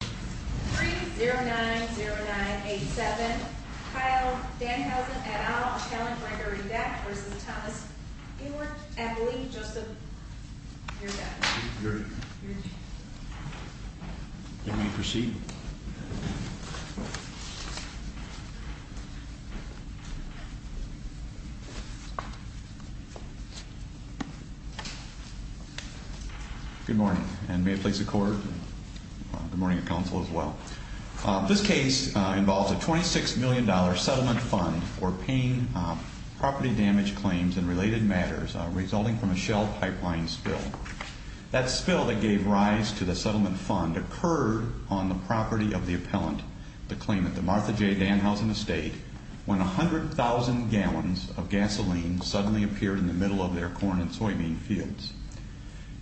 3-0909-87 Kyle Danhausen et al. Kellen Gregory Beck v. Thomas Ewert Emily Joseph You're good. You may proceed. Good morning, and may it please the court and good morning to counsel as well. This case involves a $26 million settlement fund for paying property damage claims in related matters resulting from a shell pipeline spill. That spill that gave rise to the settlement fund occurred on the property of the appellant that claimed the Martha J. Danhausen estate when 100,000 gallons of gasoline suddenly appeared in the middle of their corn and soybean fields.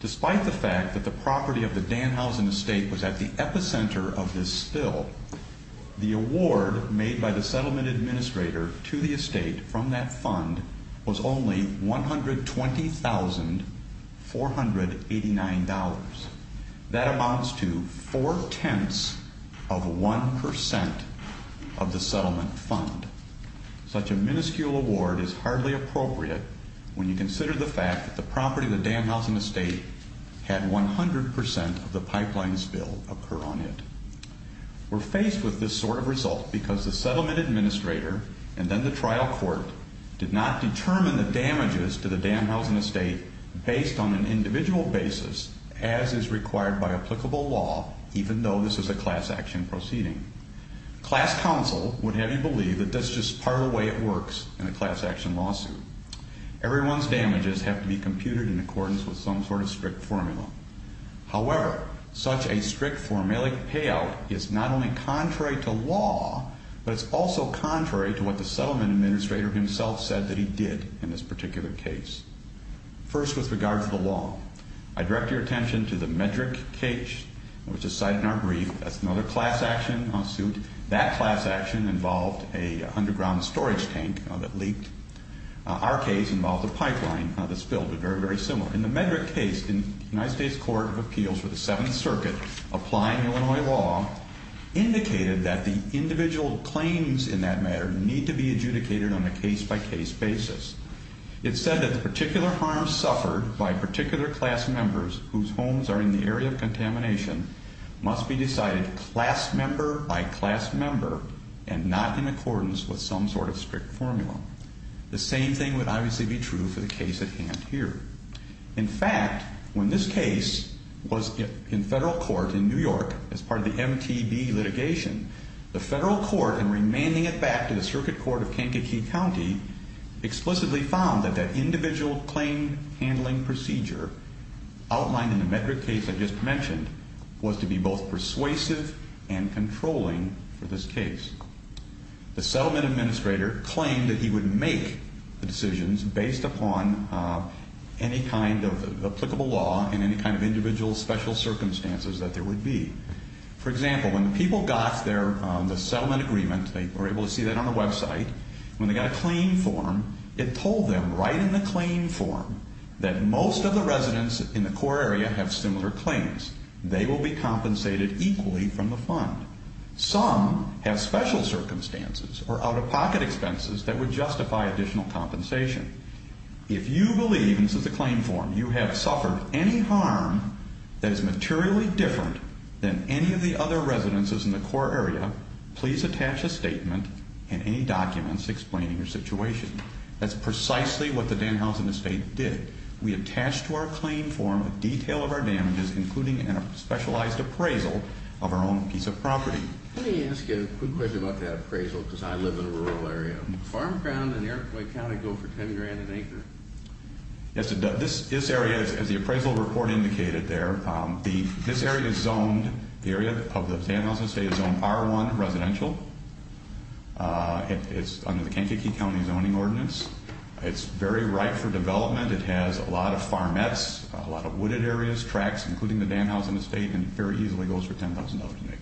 Despite the fact that the property of the Danhausen estate was at the epicenter of this spill, the award made by the settlement administrator to the estate from that fund was only $120,489. That amounts to four-tenths of one percent of the settlement fund. Such a minuscule award is hardly appropriate when you consider the fact that the property of the Danhausen estate had 100 percent of the pipeline spill occur on it. We're faced with this sort of result because the settlement administrator and then the trial court did not determine the damages to the Danhausen estate based on an individual basis as is required by applicable law, even though this is a class action proceeding. Class counsel would have you believe that that's just part of the way it works in a class action lawsuit. Everyone's damages have to be computed in accordance with some sort of strict formula. However, such a strict formulaic payout is not only contrary to law, but it's also contrary to what the settlement administrator himself said that he did in this particular case. First, with regard to the law, I direct your attention to the Medrick cage, which is cited in our brief. That's another class action lawsuit. That class action involved an underground storage tank that leaked. Our case involved a pipeline that spilled, very, very similar. In the Medrick case, the United States Court of Appeals for the Seventh Circuit, applying Illinois law, indicated that the individual claims in that matter need to be adjudicated on a case-by-case basis. It said that the particular harm suffered by particular class members whose homes are in the area of contamination must be decided class member by class member and not in accordance with some sort of strict formula. The same thing would obviously be true for the case at hand here. In fact, when this case was in federal court in New York as part of the MTB litigation, the federal court, in remanding it back to the Circuit Court of Kankakee County, explicitly found that that individual claim handling procedure outlined in the Medrick case I just mentioned was to be both persuasive and controlling for this case. The settlement administrator claimed that he would make the decisions based upon any kind of applicable law and any kind of individual special circumstances that there would be. For example, when people got the settlement agreement, they were able to see that on the website, when they got a claim form, it told them right in the claim form that most of the residents in the core area have similar claims. They will be compensated equally from the fund. Some have special circumstances or out-of-pocket expenses that would justify additional compensation. If you believe, and this is the claim form, you have suffered any harm that is materially different than any of the other residences in the core area, please attach a statement and any documents explaining your situation. That's precisely what the Danhousen Estate did. We attached to our claim form a detail of our damages, including a specialized appraisal of our own piece of property. Let me ask you a quick question about that appraisal, because I live in a rural area. Farmground and Eric Floyd County go for $10,000 an acre. Yes, it does. This area, as the appraisal report indicated there, this area is zoned, the area of the Danhousen Estate is zoned R1 residential. It's under the Kankakee County Zoning Ordinance. It's very ripe for development. It has a lot of farmettes, a lot of wooded areas, tracks, including the Danhousen Estate, and it very easily goes for $10,000 an acre.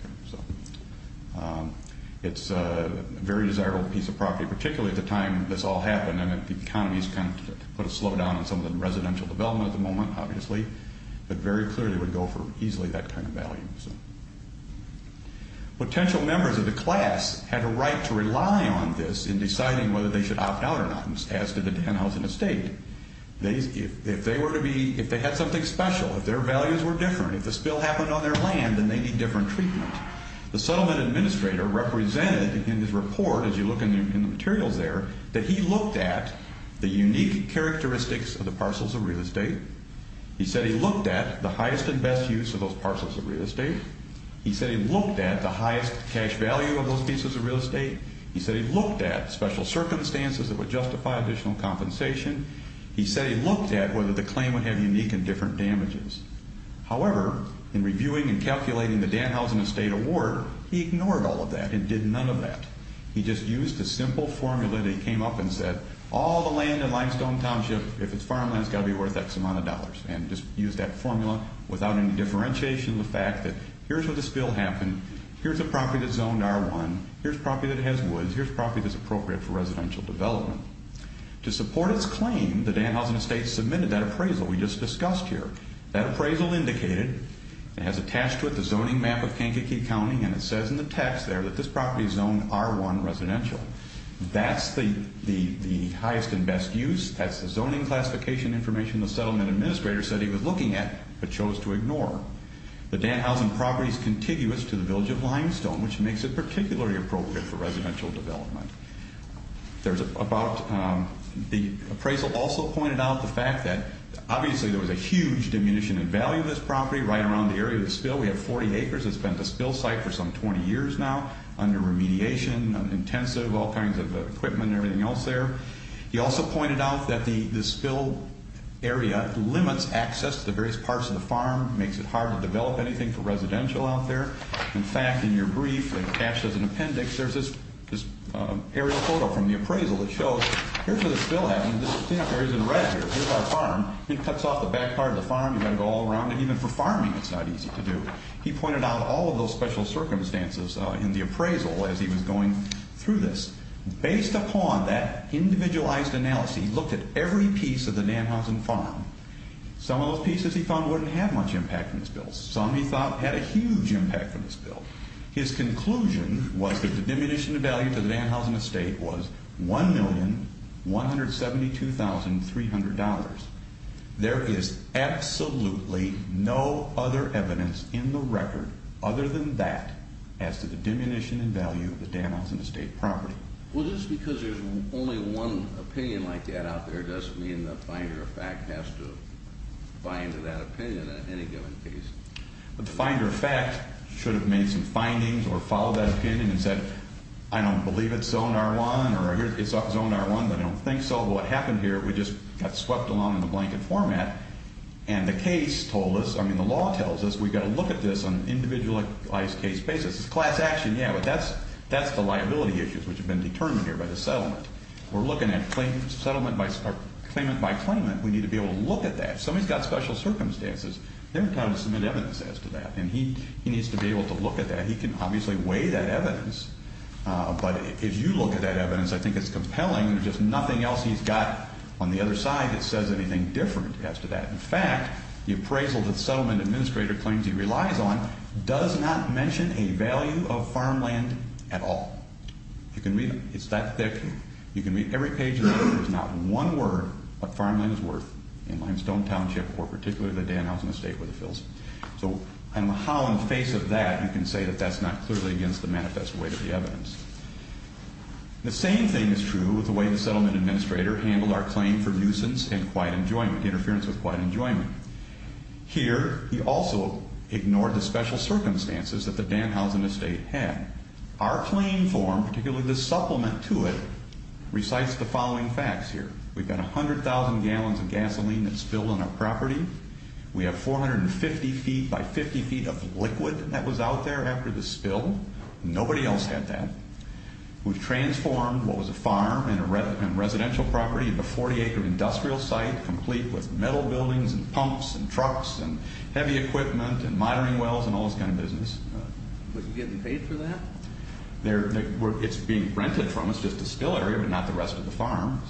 It's a very desirable piece of property, particularly at the time this all happened, and the economy has kind of put a slowdown on some of the residential development at the moment, obviously, but very clearly would go for easily that kind of value. Potential members of the class had a right to rely on this in deciding whether they should opt out or not, as did the Danhousen Estate. If they were to be, if they had something special, if their values were different, if the spill happened on their land, then they need different treatment. The settlement administrator represented in his report, as you look in the materials there, that he looked at the unique characteristics of the parcels of real estate. He said he looked at the highest and best use of those parcels of real estate. He said he looked at the highest cash value of those pieces of real estate. He said he looked at special circumstances that would justify additional compensation. He said he looked at whether the claim would have unique and different damages. However, in reviewing and calculating the Danhousen Estate award, he ignored all of that and did none of that. He just used a simple formula that he came up and said, all the land in Limestone Township, if it's farmland, it's got to be worth X amount of dollars, and just used that formula without any differentiation, the fact that here's where the spill happened, here's a property that's zoned R1, here's a property that has woods, here's a property that's appropriate for residential development. To support its claim, the Danhousen Estate submitted that appraisal we just discussed here. That appraisal indicated and has attached to it the zoning map of Kankakee County, and it says in the text there that this property is zoned R1 residential. That's the highest and best use. That's the zoning classification information the settlement administrator said he was looking at, but chose to ignore. The Danhousen property is contiguous to the village of Limestone, which makes it particularly appropriate for residential development. There's about, the appraisal also pointed out the fact that obviously there was a huge diminution in value of this property right around the area of the spill. We have 40 acres that's been at the spill site for some 20 years now, under remediation, intensive, all kinds of equipment and everything else there. He also pointed out that the spill area limits access to the various parts of the farm, makes it hard to develop anything for residential out there. In fact, in your brief that you attached as an appendix, there's this aerial photo from the appraisal that shows, here's where the spill happens, this cleanup area's in red here, here's our farm. It cuts off the back part of the farm, you've got to go all around it, even for farming it's not easy to do. He pointed out all of those special circumstances in the appraisal as he was going through this. Based upon that individualized analysis, he looked at every piece of the Danhausen farm. Some of those pieces he found wouldn't have much impact on the spill, some he thought had a huge impact on the spill. His conclusion was that the diminution in value to the Danhausen estate was $1,172,300. There is absolutely no other evidence in the record other than that as to the diminution in value of the Danhausen estate property. Well, just because there's only one opinion like that out there, doesn't mean the finder of fact has to buy into that opinion in any given case. The finder of fact should have made some findings or followed that opinion and said, I don't believe it's zone R1 or it's zone R1, but I don't think so. What happened here, we just got swept along in the blanket format, and the case told us, I mean the law tells us, we've got to look at this on an individualized case basis. It's class action, yeah, but that's the liability issues which have been determined here by the settlement. We're looking at claimant by claimant. We need to be able to look at that. If somebody's got special circumstances, they're entitled to submit evidence as to that, and he needs to be able to look at that. He can obviously weigh that evidence, but if you look at that evidence, I think it's compelling. There's just nothing else he's got on the other side that says anything different as to that. In fact, the appraisal that the settlement administrator claims he relies on does not mention a value of farmland at all. You can read it. It's that thick. You can read every page of it. There's not one word of farmland is worth in Limestone Township or particularly the Danhausen Estate where it fills. So I don't know how, in the face of that, you can say that that's not clearly against the manifest weight of the evidence. The same thing is true with the way the settlement administrator handled our claim for nuisance and interference with quiet enjoyment. Here he also ignored the special circumstances that the Danhausen Estate had. Our claim form, particularly the supplement to it, recites the following facts here. We've got 100,000 gallons of gasoline that spilled on our property. We have 450 feet by 50 feet of liquid that was out there after the spill. Nobody else had that. We've transformed what was a farm and residential property into a 40-acre industrial site complete with metal buildings and pumps and trucks and heavy equipment and monitoring wells and all this kind of business. But you're getting paid for that? It's being rented from us, just a still area, but not the rest of the farm.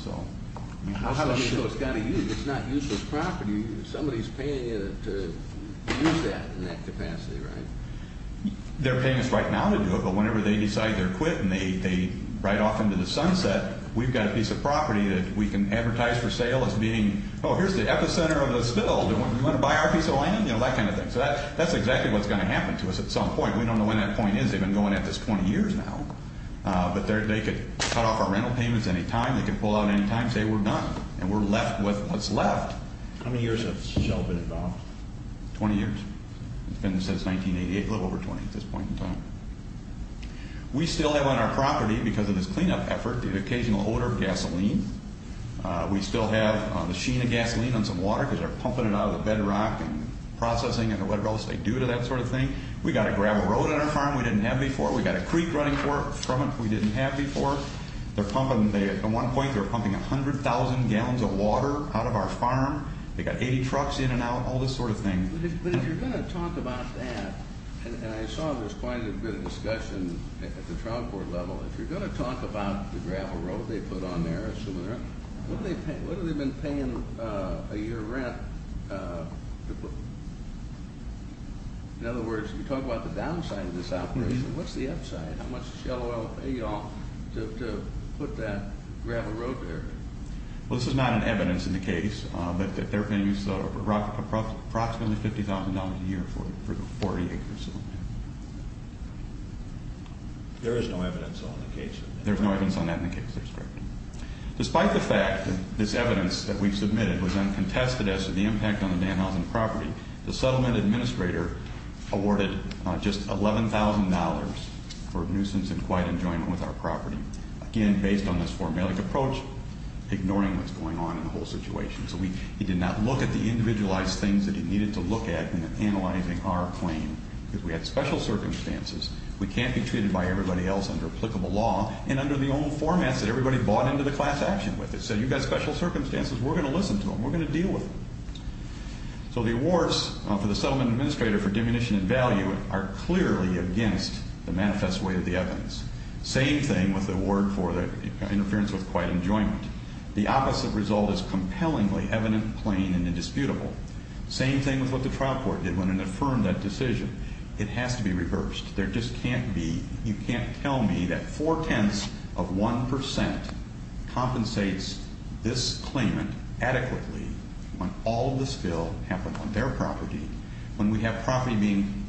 How do you know it's got to use? It's not useless property. Somebody's paying you to use that in that capacity, right? They're paying us right now to do it, but whenever they decide they're quit and they ride off into the sunset, we've got a piece of property that we can advertise for sale as being, oh, here's the epicenter of the spill. Do you want to buy our piece of land? You know, that kind of thing. So that's exactly what's going to happen to us at some point. We don't know when that point is. They've been going at this 20 years now. But they could cut off our rental payments any time. They could pull out any time and say, we're done, and we're left with what's left. How many years has Shell been involved? 20 years. It's been since 1988, a little over 20 at this point in time. We still have on our property, because of this cleanup effort, the occasional odor of gasoline. We still have a machine of gasoline on some water because they're pumping it out of the bedrock and processing it or whatever else they do to that sort of thing. We've got to grab a road on our farm we didn't have before. We've got a creek running from it we didn't have before. At one point they were pumping 100,000 gallons of water out of our farm. They've got 80 trucks in and out, all this sort of thing. But if you're going to talk about that, and I saw there was quite a bit of discussion at the trial court level, if you're going to talk about the gravel road they put on there, what have they been paying a year of rent? In other words, you talk about the downside of this operation, what's the upside? How much Shell Oil pay y'all to put that gravel road there? Well, this is not in evidence in the case, but they're going to use approximately $50,000 a year for the 40 acres. There is no evidence on the case? There's no evidence on that in the case, that's correct. Despite the fact that this evidence that we submitted was uncontested as to the impact on the Danhausen property, the settlement administrator awarded just $11,000 for nuisance and quiet enjoyment with our property. Again, based on this formellic approach, ignoring what's going on in the whole situation. So he did not look at the individualized things that he needed to look at in analyzing our claim. Because we had special circumstances, we can't be treated by everybody else under applicable law, and under the old formats that everybody bought into the class action with it. So you've got special circumstances, we're going to listen to them, we're going to deal with them. So the awards for the settlement administrator for diminution in value are clearly against the manifest way of the evidence. Same thing with the award for the interference with quiet enjoyment. The opposite result is compellingly evident, plain, and indisputable. Same thing with what the trial court did when it affirmed that decision. It has to be reversed. There just can't be, you can't tell me that four-tenths of 1% compensates this claimant adequately when all of this spill happened on their property. When we have property being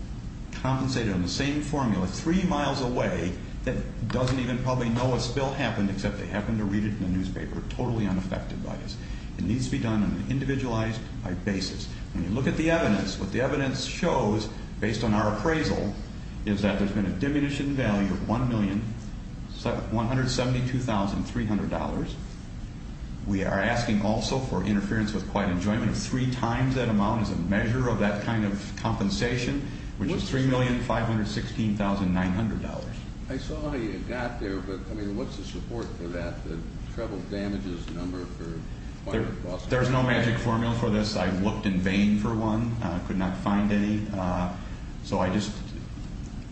compensated on the same formula three miles away that doesn't even probably know a spill happened except they happen to read it in the newspaper, totally unaffected by this. It needs to be done on an individualized basis. When you look at the evidence, what the evidence shows, based on our appraisal, is that there's been a diminution in value of $1,172,300. We are asking also for interference with quiet enjoyment of three times that amount as a measure of that kind of compensation, which is $3,516,900. I saw how you got there, but what's the support for that, the treble damages number? There's no magic formula for this. I looked in vain for one. I could not find any.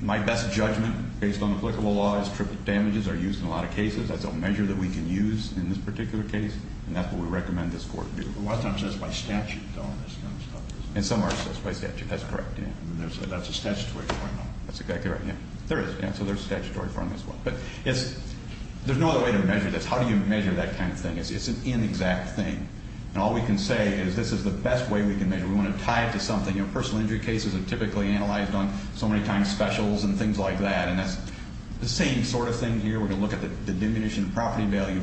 My best judgment, based on applicable law, is triple damages are used in a lot of cases. That's a measure that we can use in this particular case, and that's what we recommend this court do. A lot of times that's by statute, though. And some are assessed by statute. That's correct, yeah. That's a statutory formula. That's exactly right, yeah. There is, so there's a statutory formula as well. But there's no other way to measure this. How do you measure that kind of thing? It's an inexact thing, and all we can say is this is the best way we can measure it. We want to tie it to something. Personal injury cases are typically analyzed on so many times specials and things like that, and that's the same sort of thing here. We're going to look at the diminution in property value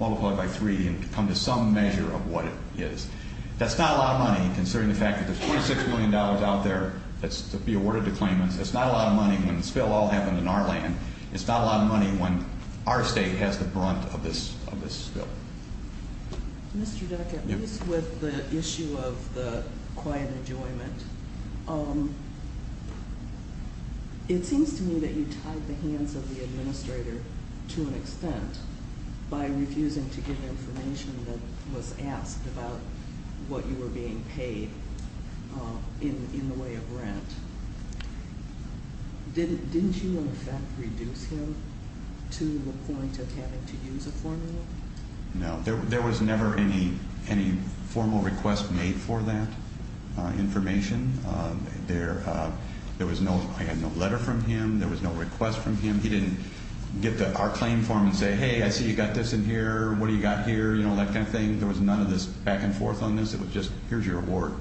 multiplied by three and come to some measure of what it is. That's not a lot of money, considering the fact that there's $26 million out there that's to be awarded to claimants. That's not a lot of money when the spill all happened in our land. It's not a lot of money when our state has the brunt of this spill. Mr. Duckett, at least with the issue of the quiet enjoyment, it seems to me that you tied the hands of the administrator to an extent by refusing to give information that was asked about what you were being paid in the way of rent. Didn't you, in effect, reduce him to the point of having to use a formula? No. There was never any formal request made for that information. There was no letter from him. There was no request from him. He didn't get our claim form and say, hey, I see you got this in here. What do you got here? You know, that kind of thing. There was none of this back and forth on this. It was just, here's your award.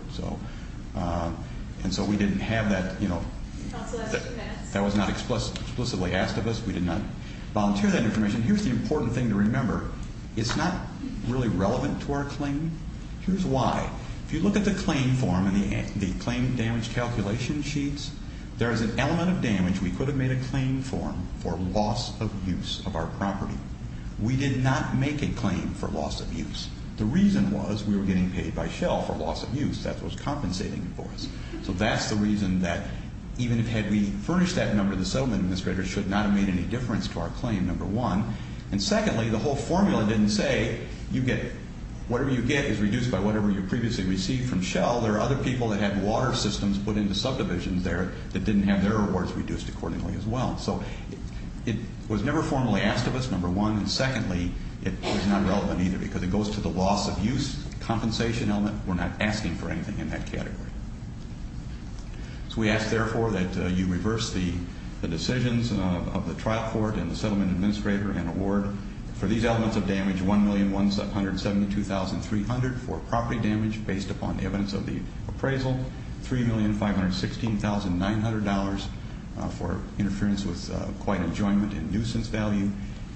And so we didn't have that. That was not explicitly asked of us. We did not volunteer that information. Here's the important thing to remember. It's not really relevant to our claim. Here's why. If you look at the claim form and the claim damage calculation sheets, there is an element of damage we could have made a claim form for loss of use of our property. We did not make a claim for loss of use. The reason was we were getting paid by shell for loss of use. That was compensating for us. So that's the reason that even had we furnished that number, the settlement administrator should not have made any difference to our claim, number one. And secondly, the whole formula didn't say you get whatever you get is reduced by whatever you previously received from shell. There are other people that had water systems put into subdivisions there that didn't have their awards reduced accordingly as well. So it was never formally asked of us, number one. And secondly, it was not relevant either because it goes to the loss of use compensation element. We're not asking for anything in that category. So we ask, therefore, that you reverse the decisions of the trial court and the settlement administrator and award for these elements of damage, $1,172,300 for property damage based upon evidence of the appraisal, $3,516,900 for interference with quiet enjoyment and nuisance value,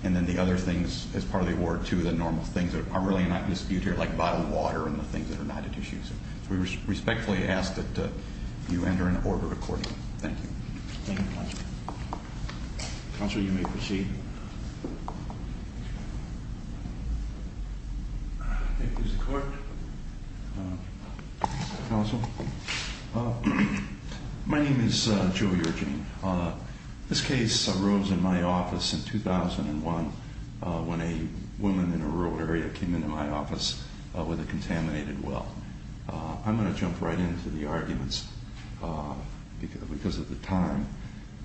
and then the other things as part of the award, too, the normal things that are really not in dispute here like bottled water and the things that are not at issue. So we respectfully ask that you enter an order accordingly. Thank you. Thank you, Counsel. Counsel, you may proceed. Here's the court. Counsel. My name is Joe Yergin. This case arose in my office in 2001 when a woman in a rural area came into my office with a contaminated well. I'm going to jump right into the arguments because of the time.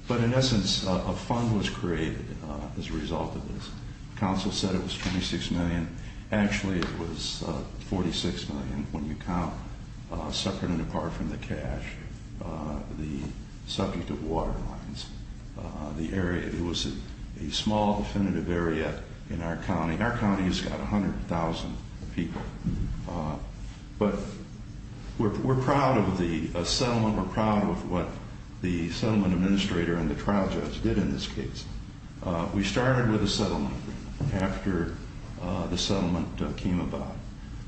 But in essence, a fund was created as a result of this. Counsel said it was $26 million. Actually, it was $46 million when you count separate and apart from the cash the subject of water lines. The area, it was a small definitive area in our county. Our county has got 100,000 people. But we're proud of the settlement. We're proud of what the settlement administrator and the trial judge did in this case. We started with a settlement after the settlement came about.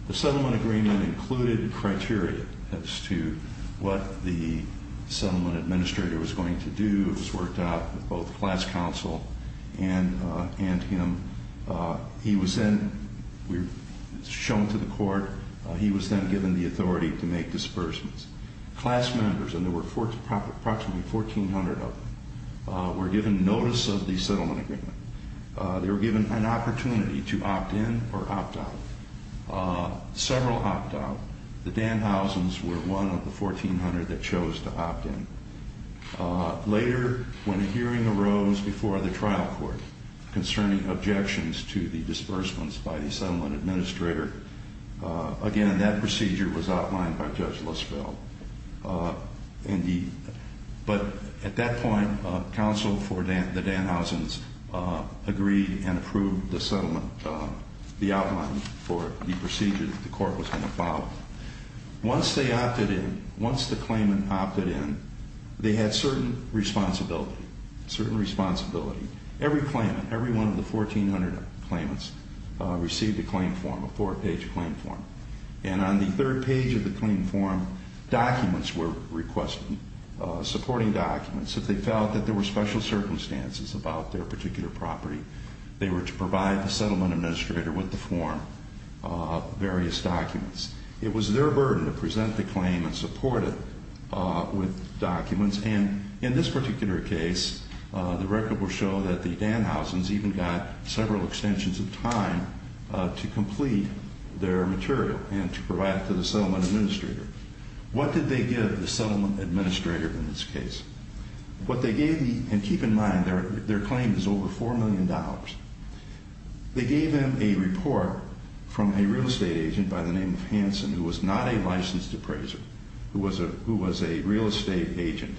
The settlement agreement included criteria as to what the settlement administrator was going to do. It was worked out with both class counsel and him. He was then shown to the court. He was then given the authority to make disbursements. Class members, and there were approximately 1,400 of them, were given notice of the settlement agreement. They were given an opportunity to opt in or opt out, several opt out. The Danhausens were one of the 1,400 that chose to opt in. Later, when a hearing arose before the trial court concerning objections to the disbursements by the settlement administrator, again, that procedure was outlined by Judge Lispel. But at that point, counsel for the Danhausens agreed and approved the settlement, the outline for the procedure that the court was going to follow. Once they opted in, once the claimant opted in, they had certain responsibility, certain responsibility. Every claimant, every one of the 1,400 claimants received a claim form, a four-page claim form. And on the third page of the claim form, documents were requested, supporting documents, that they felt that there were special circumstances about their particular property. They were to provide the settlement administrator with the form, various documents. It was their burden to present the claim and support it with documents. And in this particular case, the record will show that the Danhausens even got several extensions of time to complete their material and to provide it to the settlement administrator. What did they give the settlement administrator in this case? And keep in mind, their claim is over $4 million. They gave them a report from a real estate agent by the name of Hanson, who was not a licensed appraiser, who was a real estate agent.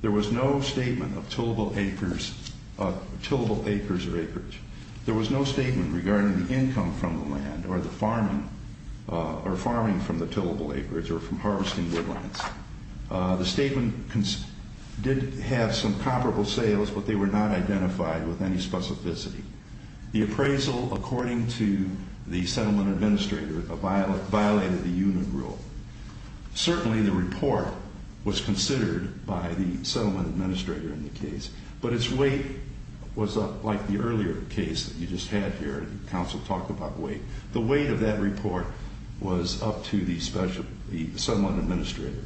There was no statement of tillable acres or acreage. There was no statement regarding the income from the land or the farming from the tillable acreage or from harvesting woodlands. The statement did have some comparable sales, but they were not identified with any specificity. The appraisal, according to the settlement administrator, violated the unit rule. Certainly, the report was considered by the settlement administrator in the case, but its weight was up, like the earlier case that you just had here. The counsel talked about weight. The weight of that report was up to the settlement administrator,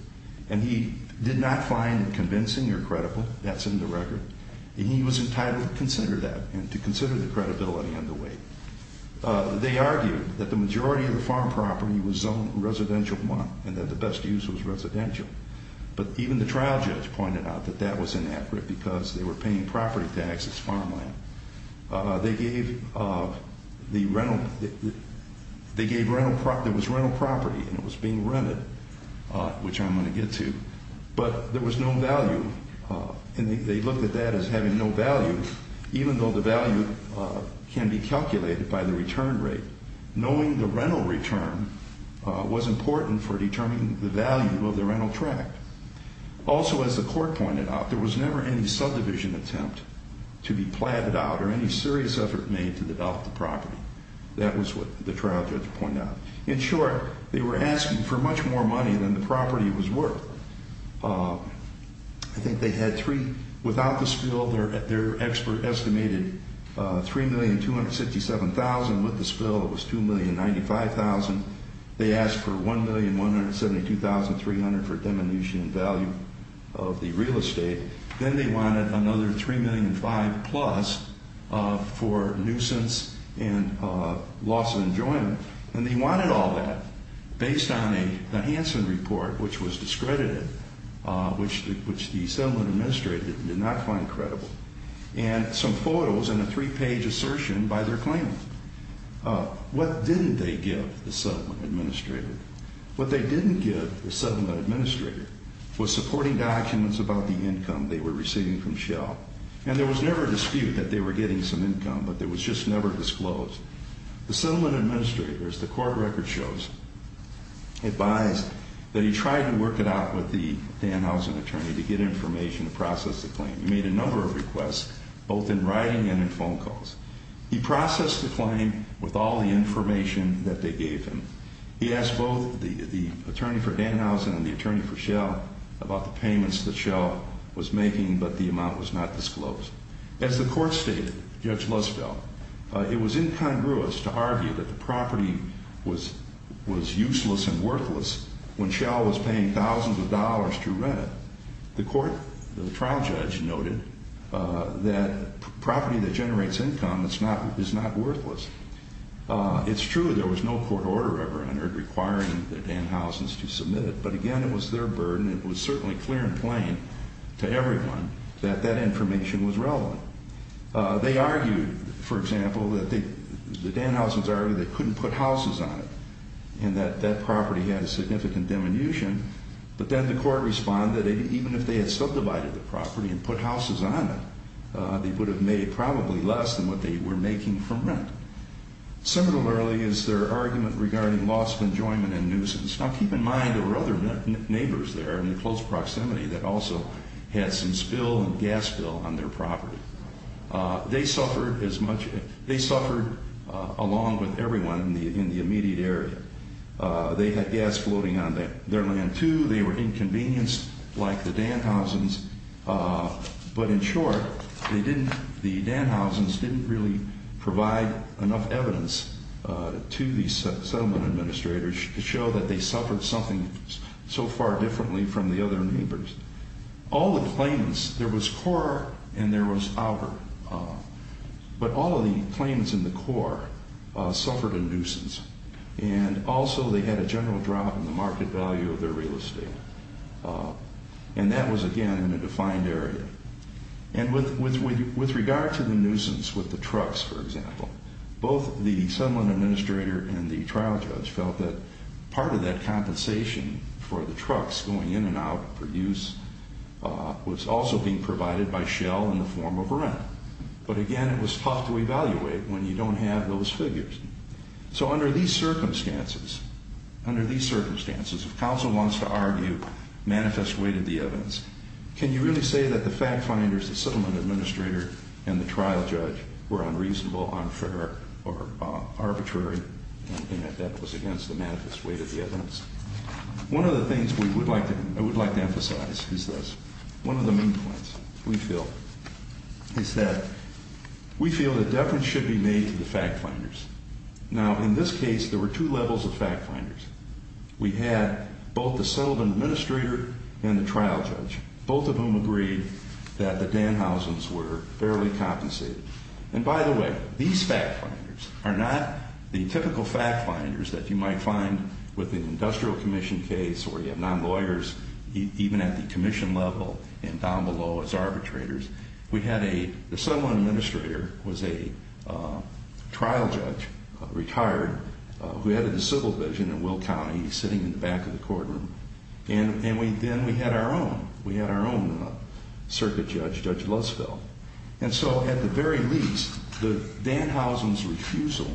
and he did not find it convincing or credible. That's in the record. He was entitled to consider that and to consider the credibility and the weight. They argued that the majority of the farm property was zoned residential one and that the best use was residential. But even the trial judge pointed out that that was inaccurate because they were paying property taxes, farmland. They gave the rental. There was rental property, and it was being rented, which I'm going to get to. But there was no value, and they looked at that as having no value, even though the value can be calculated by the return rate. Knowing the rental return was important for determining the value of the rental tract. Also, as the court pointed out, there was never any subdivision attempt to be platted out or any serious effort made to develop the property. That was what the trial judge pointed out. In short, they were asking for much more money than the property was worth. I think they had three. Without the spill, their expert estimated $3,267,000. They asked for $1,172,300 for diminution in value of the real estate. Then they wanted another $3,005,000 plus for nuisance and loss of enjoyment. And they wanted all that based on the Hansen report, which was discredited, which the settlement administrator did not find credible, and some photos and a three-page assertion by their claimant. What didn't they give the settlement administrator? What they didn't give the settlement administrator was supporting documents about the income they were receiving from Shell. And there was never a dispute that they were getting some income, but it was just never disclosed. The settlement administrator, as the court record shows, advised that he tried to work it out with the Danhausen attorney to get information to process the claim. He made a number of requests, both in writing and in phone calls. He processed the claim with all the information that they gave him. He asked both the attorney for Danhausen and the attorney for Shell about the payments that Shell was making, but the amount was not disclosed. As the court stated, Judge Luzfeld, it was incongruous to argue that the property was useless and worthless when Shell was paying thousands of dollars to rent it. The court, the trial judge, noted that property that generates income is not worthless. It's true there was no court order ever entered requiring the Danhausens to submit it, but, again, it was their burden. It was certainly clear and plain to everyone that that information was relevant. They argued, for example, that the Danhausens argued they couldn't put houses on it and that that property had a significant diminution. But then the court responded that even if they had subdivided the property and put houses on it, they would have made probably less than what they were making from rent. Similarly is their argument regarding loss of enjoyment and nuisance. Now, keep in mind there were other neighbors there in close proximity that also had some spill and gas spill on their property. They suffered along with everyone in the immediate area. They had gas floating on their land, too. They were inconvenienced like the Danhausens. But, in short, the Danhausens didn't really provide enough evidence to the settlement administrators to show that they suffered something so far differently from the other neighbors. All the claimants, there was Kaur and there was Albert, but all of the claimants in the Kaur suffered a nuisance. And also they had a general drop in the market value of their real estate. And that was, again, in a defined area. And with regard to the nuisance with the trucks, for example, both the settlement administrator and the trial judge felt that part of that compensation for the trucks going in and out for use was also being provided by Shell in the form of rent. But, again, it was tough to evaluate when you don't have those figures. So under these circumstances, under these circumstances, if counsel wants to argue manifest weight of the evidence, can you really say that the fact finders, the settlement administrator, and the trial judge were unreasonable, unfair, or arbitrary in that that was against the manifest weight of the evidence? One of the things we would like to emphasize is this. One of the main points we feel is that we feel that deference should be made to the fact finders. Now, in this case, there were two levels of fact finders. We had both the settlement administrator and the trial judge, both of whom agreed that the Danhausens were fairly compensated. And, by the way, these fact finders are not the typical fact finders that you might find with an industrial commission case or you have non-lawyers even at the commission level and down below as arbitrators. We had a – the settlement administrator was a trial judge, retired, who headed the civil division in Will County, sitting in the back of the courtroom. And then we had our own. We had our own circuit judge, Judge Lutzfeld. And so, at the very least, the Danhausens' refusal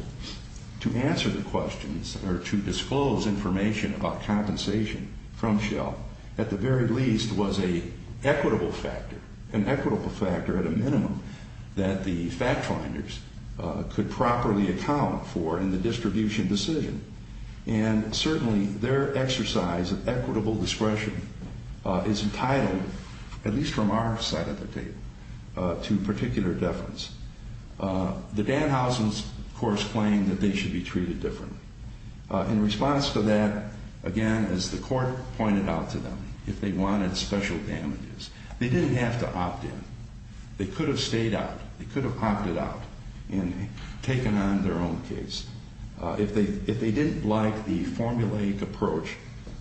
to answer the questions or to disclose information about compensation from Shell, at the very least, was an equitable factor. An equitable factor at a minimum that the fact finders could properly account for in the distribution decision. And, certainly, their exercise of equitable discretion is entitled, at least from our side of the table, to particular deference. The Danhausens, of course, claim that they should be treated differently. In response to that, again, as the court pointed out to them, if they wanted special damages, they didn't have to opt in. They could have stayed out. They could have opted out and taken on their own case. If they didn't like the formulaic approach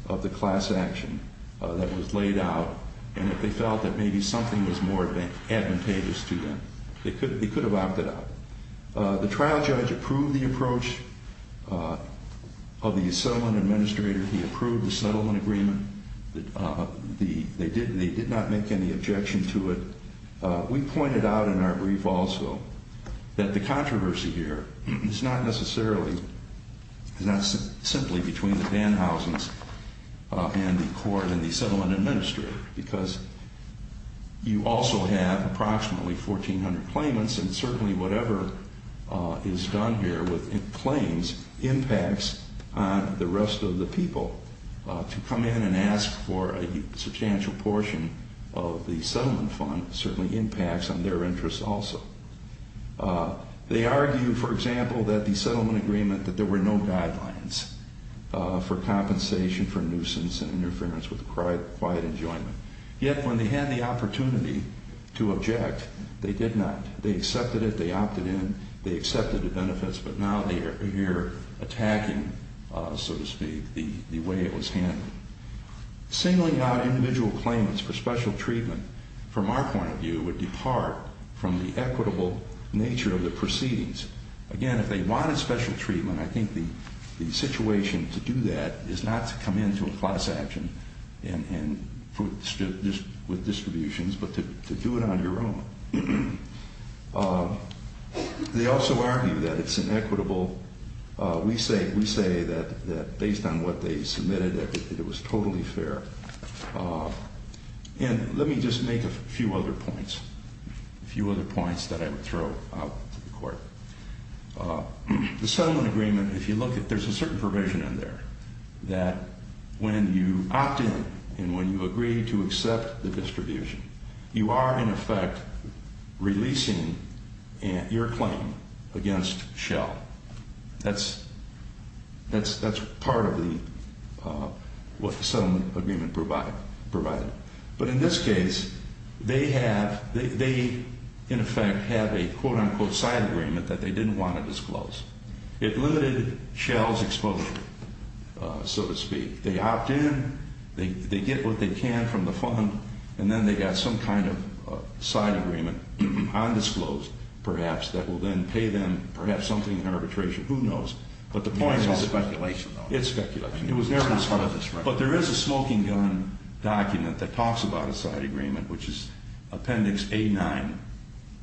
of the class action that was laid out, and if they felt that maybe something was more advantageous to them, they could have opted out. The trial judge approved the approach of the settlement administrator. He approved the settlement agreement. They did not make any objection to it. We pointed out in our brief also that the controversy here is not necessarily, is not simply between the Danhausens and the court and the settlement administrator. Because you also have approximately 1,400 claimants, and certainly whatever is done here with claims impacts on the rest of the people. To come in and ask for a substantial portion of the settlement fund certainly impacts on their interests also. They argue, for example, that the settlement agreement, that there were no guidelines for compensation for nuisance and interference with quiet enjoyment. Yet when they had the opportunity to object, they did not. They accepted it. They opted in. They accepted the benefits. But now they're attacking, so to speak, the way it was handled. Singling out individual claimants for special treatment, from our point of view, would depart from the equitable nature of the proceedings. Again, if they wanted special treatment, I think the situation to do that is not to come into a class action with distributions, but to do it on your own. They also argue that it's inequitable. We say that based on what they submitted, that it was totally fair. And let me just make a few other points, a few other points that I would throw out to the court. The settlement agreement, if you look at it, there's a certain provision in there that when you opt in and when you agree to accept the distribution, you are, in effect, releasing your claim against Shell. That's part of what the settlement agreement provided. But in this case, they, in effect, have a quote-unquote side agreement that they didn't want to disclose. It limited Shell's exposure, so to speak. They opt in, they get what they can from the fund, and then they got some kind of side agreement undisclosed, perhaps, that will then pay them perhaps something in arbitration. Who knows? But the point is... It's speculation, though. It's speculation. It was never discussed. But there is a smoking gun document that talks about a side agreement, which is Appendix A-9,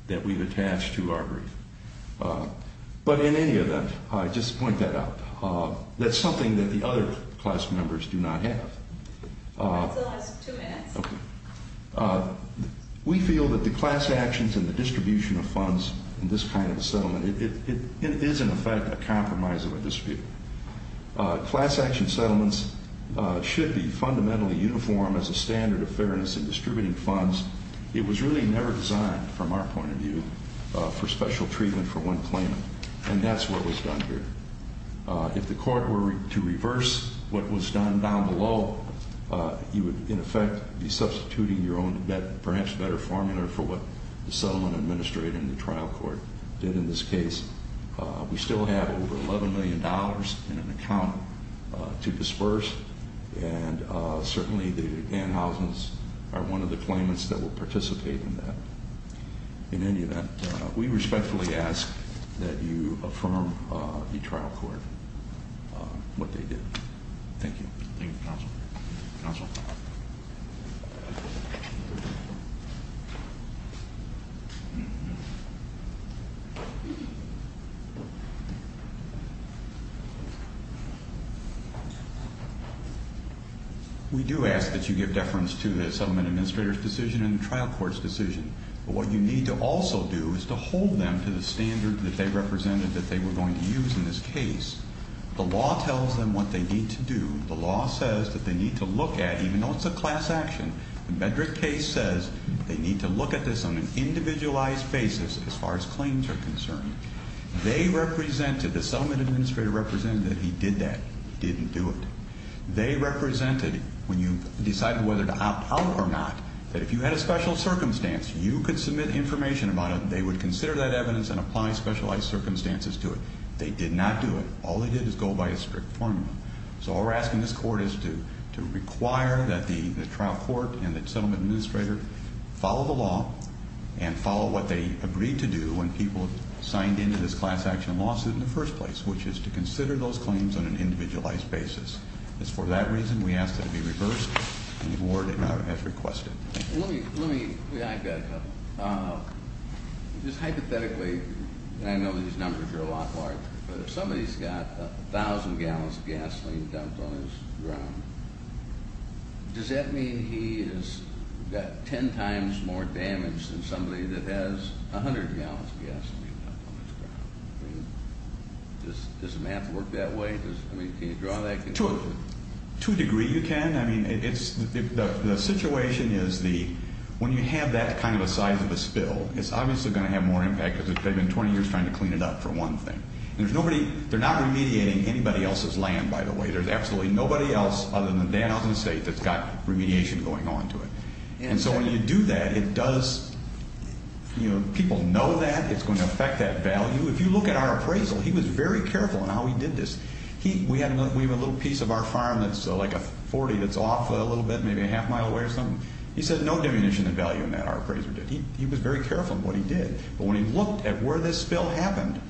that we've attached to our brief. But in any event, I just point that out. That's something that the other class members do not have. That's the last two minutes. Okay. We feel that the class actions and the distribution of funds in this kind of a settlement, it is, in effect, a compromise of a dispute. Class action settlements should be fundamentally uniform as a standard of fairness in distributing funds. It was really never designed, from our point of view, for special treatment for one claimant. And that's what was done here. If the court were to reverse what was done down below, you would, in effect, be substituting your own perhaps better formula for what the settlement administrator and the trial court did in this case. We still have over $11 million in an account to disperse. And certainly, the annhousings are one of the claimants that will participate in that. In any event, we respectfully ask that you affirm the trial court what they did. Thank you. Thank you, counsel. Counsel. We do ask that you give deference to the settlement administrator's decision and the trial court's decision. But what you need to also do is to hold them to the standard that they represented that they were going to use in this case. The law tells them what they need to do. The law says that they need to look at, even though it's a class action, the Bedrick case says they need to look at this on an individualized basis as far as claims are concerned. They represented, the settlement administrator represented that he did that. He didn't do it. They represented, when you decided whether to opt out or not, that if you had a special circumstance, you could submit information about it. They would consider that evidence and apply specialized circumstances to it. They did not do it. All they did is go by a strict formula. So all we're asking this court is to require that the trial court and the settlement administrator follow the law and follow what they agreed to do when people signed into this class action lawsuit in the first place, which is to consider those claims on an individualized basis. It's for that reason we ask that it be reversed and the board has requested it. Let me, let me, I've got a couple. Just hypothetically, and I know these numbers are a lot larger, but if somebody's got a thousand gallons of gasoline dumped on his ground, does that mean he has got ten times more damage than somebody that has a hundred gallons of gasoline dumped on his ground? I mean, does math work that way? I mean, can you draw that conclusion? To a degree you can. I mean, it's, the situation is the, when you have that kind of a size of a spill, it's obviously going to have more impact because they've been 20 years trying to clean it up, for one thing. There's nobody, they're not remediating anybody else's land, by the way. There's absolutely nobody else other than Dan Elton State that's got remediation going on to it. And so when you do that, it does, you know, people know that it's going to affect that value. If you look at our appraisal, he was very careful in how he did this. We have a little piece of our farm that's like a 40 that's off a little bit, maybe a half mile away or something. He said no diminution in value in that, our appraiser did. He was very careful in what he did. But when he looked at where this spill happened,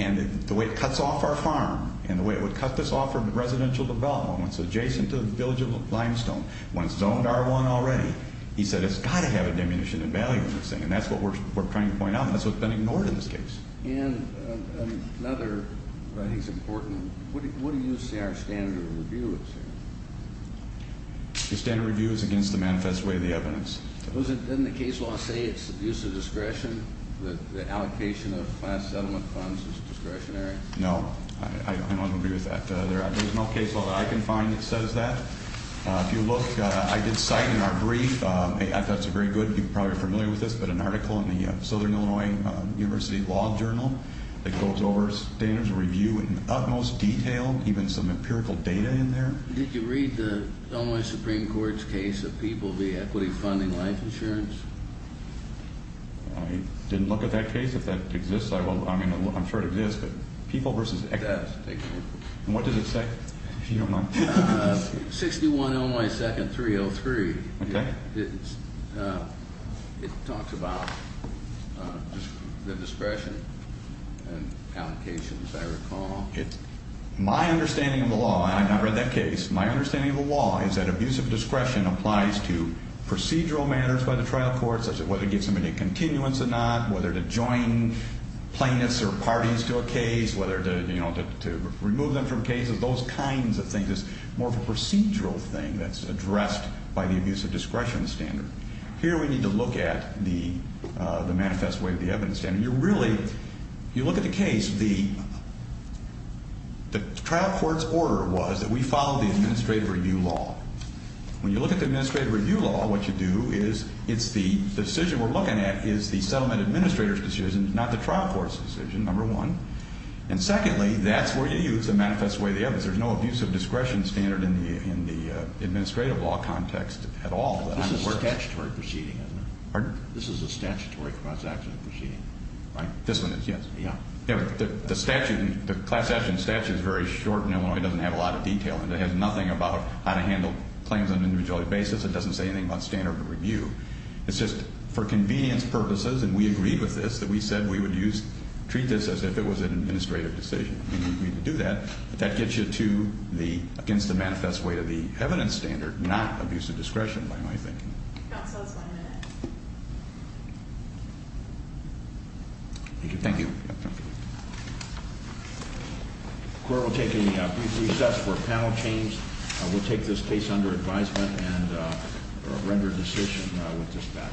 and the way it cuts off our farm, and the way it would cut this off our residential development, when it's adjacent to the village of Limestone, when it's zoned R1 already, he said it's got to have a diminution in value in this thing. And that's what we're trying to point out, and that's what's been ignored in this case. And another, but I think it's important, what do you say our standard review is here? The standard review is against the manifest way of the evidence. Doesn't the case law say it's abuse of discretion, that the allocation of class settlement funds is discretionary? No, I don't agree with that. There's no case law that I can find that says that. If you look, I did cite in our brief, I thought it was very good, you're probably familiar with this, but an article in the Southern Illinois University Law Journal that goes over standards review in the utmost detail, even some empirical data in there. Did you read the Illinois Supreme Court's case of People v. Equity Funding Life Insurance? I didn't look at that case. If that exists, I'm sure it exists, but People v. Equity. It does. And what does it say? If you don't mind. 61 Illinois 2nd 303. Okay. It talks about the discretion and allocations, I recall. My understanding of the law, and I've not read that case, my understanding of the law is that abuse of discretion applies to procedural matters by the trial court, such as whether it gives somebody a continuance or not, whether to join plaintiffs or parties to a case, whether to remove them from cases, those kinds of things. It's more of a procedural thing that's addressed by the abuse of discretion standard. Here we need to look at the manifest way of the evidence standard. You really, you look at the case, the trial court's order was that we follow the administrative review law. When you look at the administrative review law, what you do is, it's the decision we're looking at is the settlement administrator's decision, not the trial court's decision, number one. And secondly, that's where you use the manifest way of the evidence. Because there's no abuse of discretion standard in the administrative law context at all. This is a statutory proceeding, isn't it? Pardon? This is a statutory transaction proceeding, right? This one is, yes. Yeah. The statute, the class action statute is very short in Illinois. It doesn't have a lot of detail in it. It has nothing about how to handle claims on an individual basis. It doesn't say anything about standard of review. It's just for convenience purposes, and we agree with this, that we said we would treat this as if it was an administrative decision, and we agreed to do that. But that gets you to the, against the manifest way to the evidence standard, not abuse of discretion, by my thinking. Counsel, that's my minute. Thank you. The court will take a brief recess for a panel change. We'll take this case under advisement and render a decision with dispatch.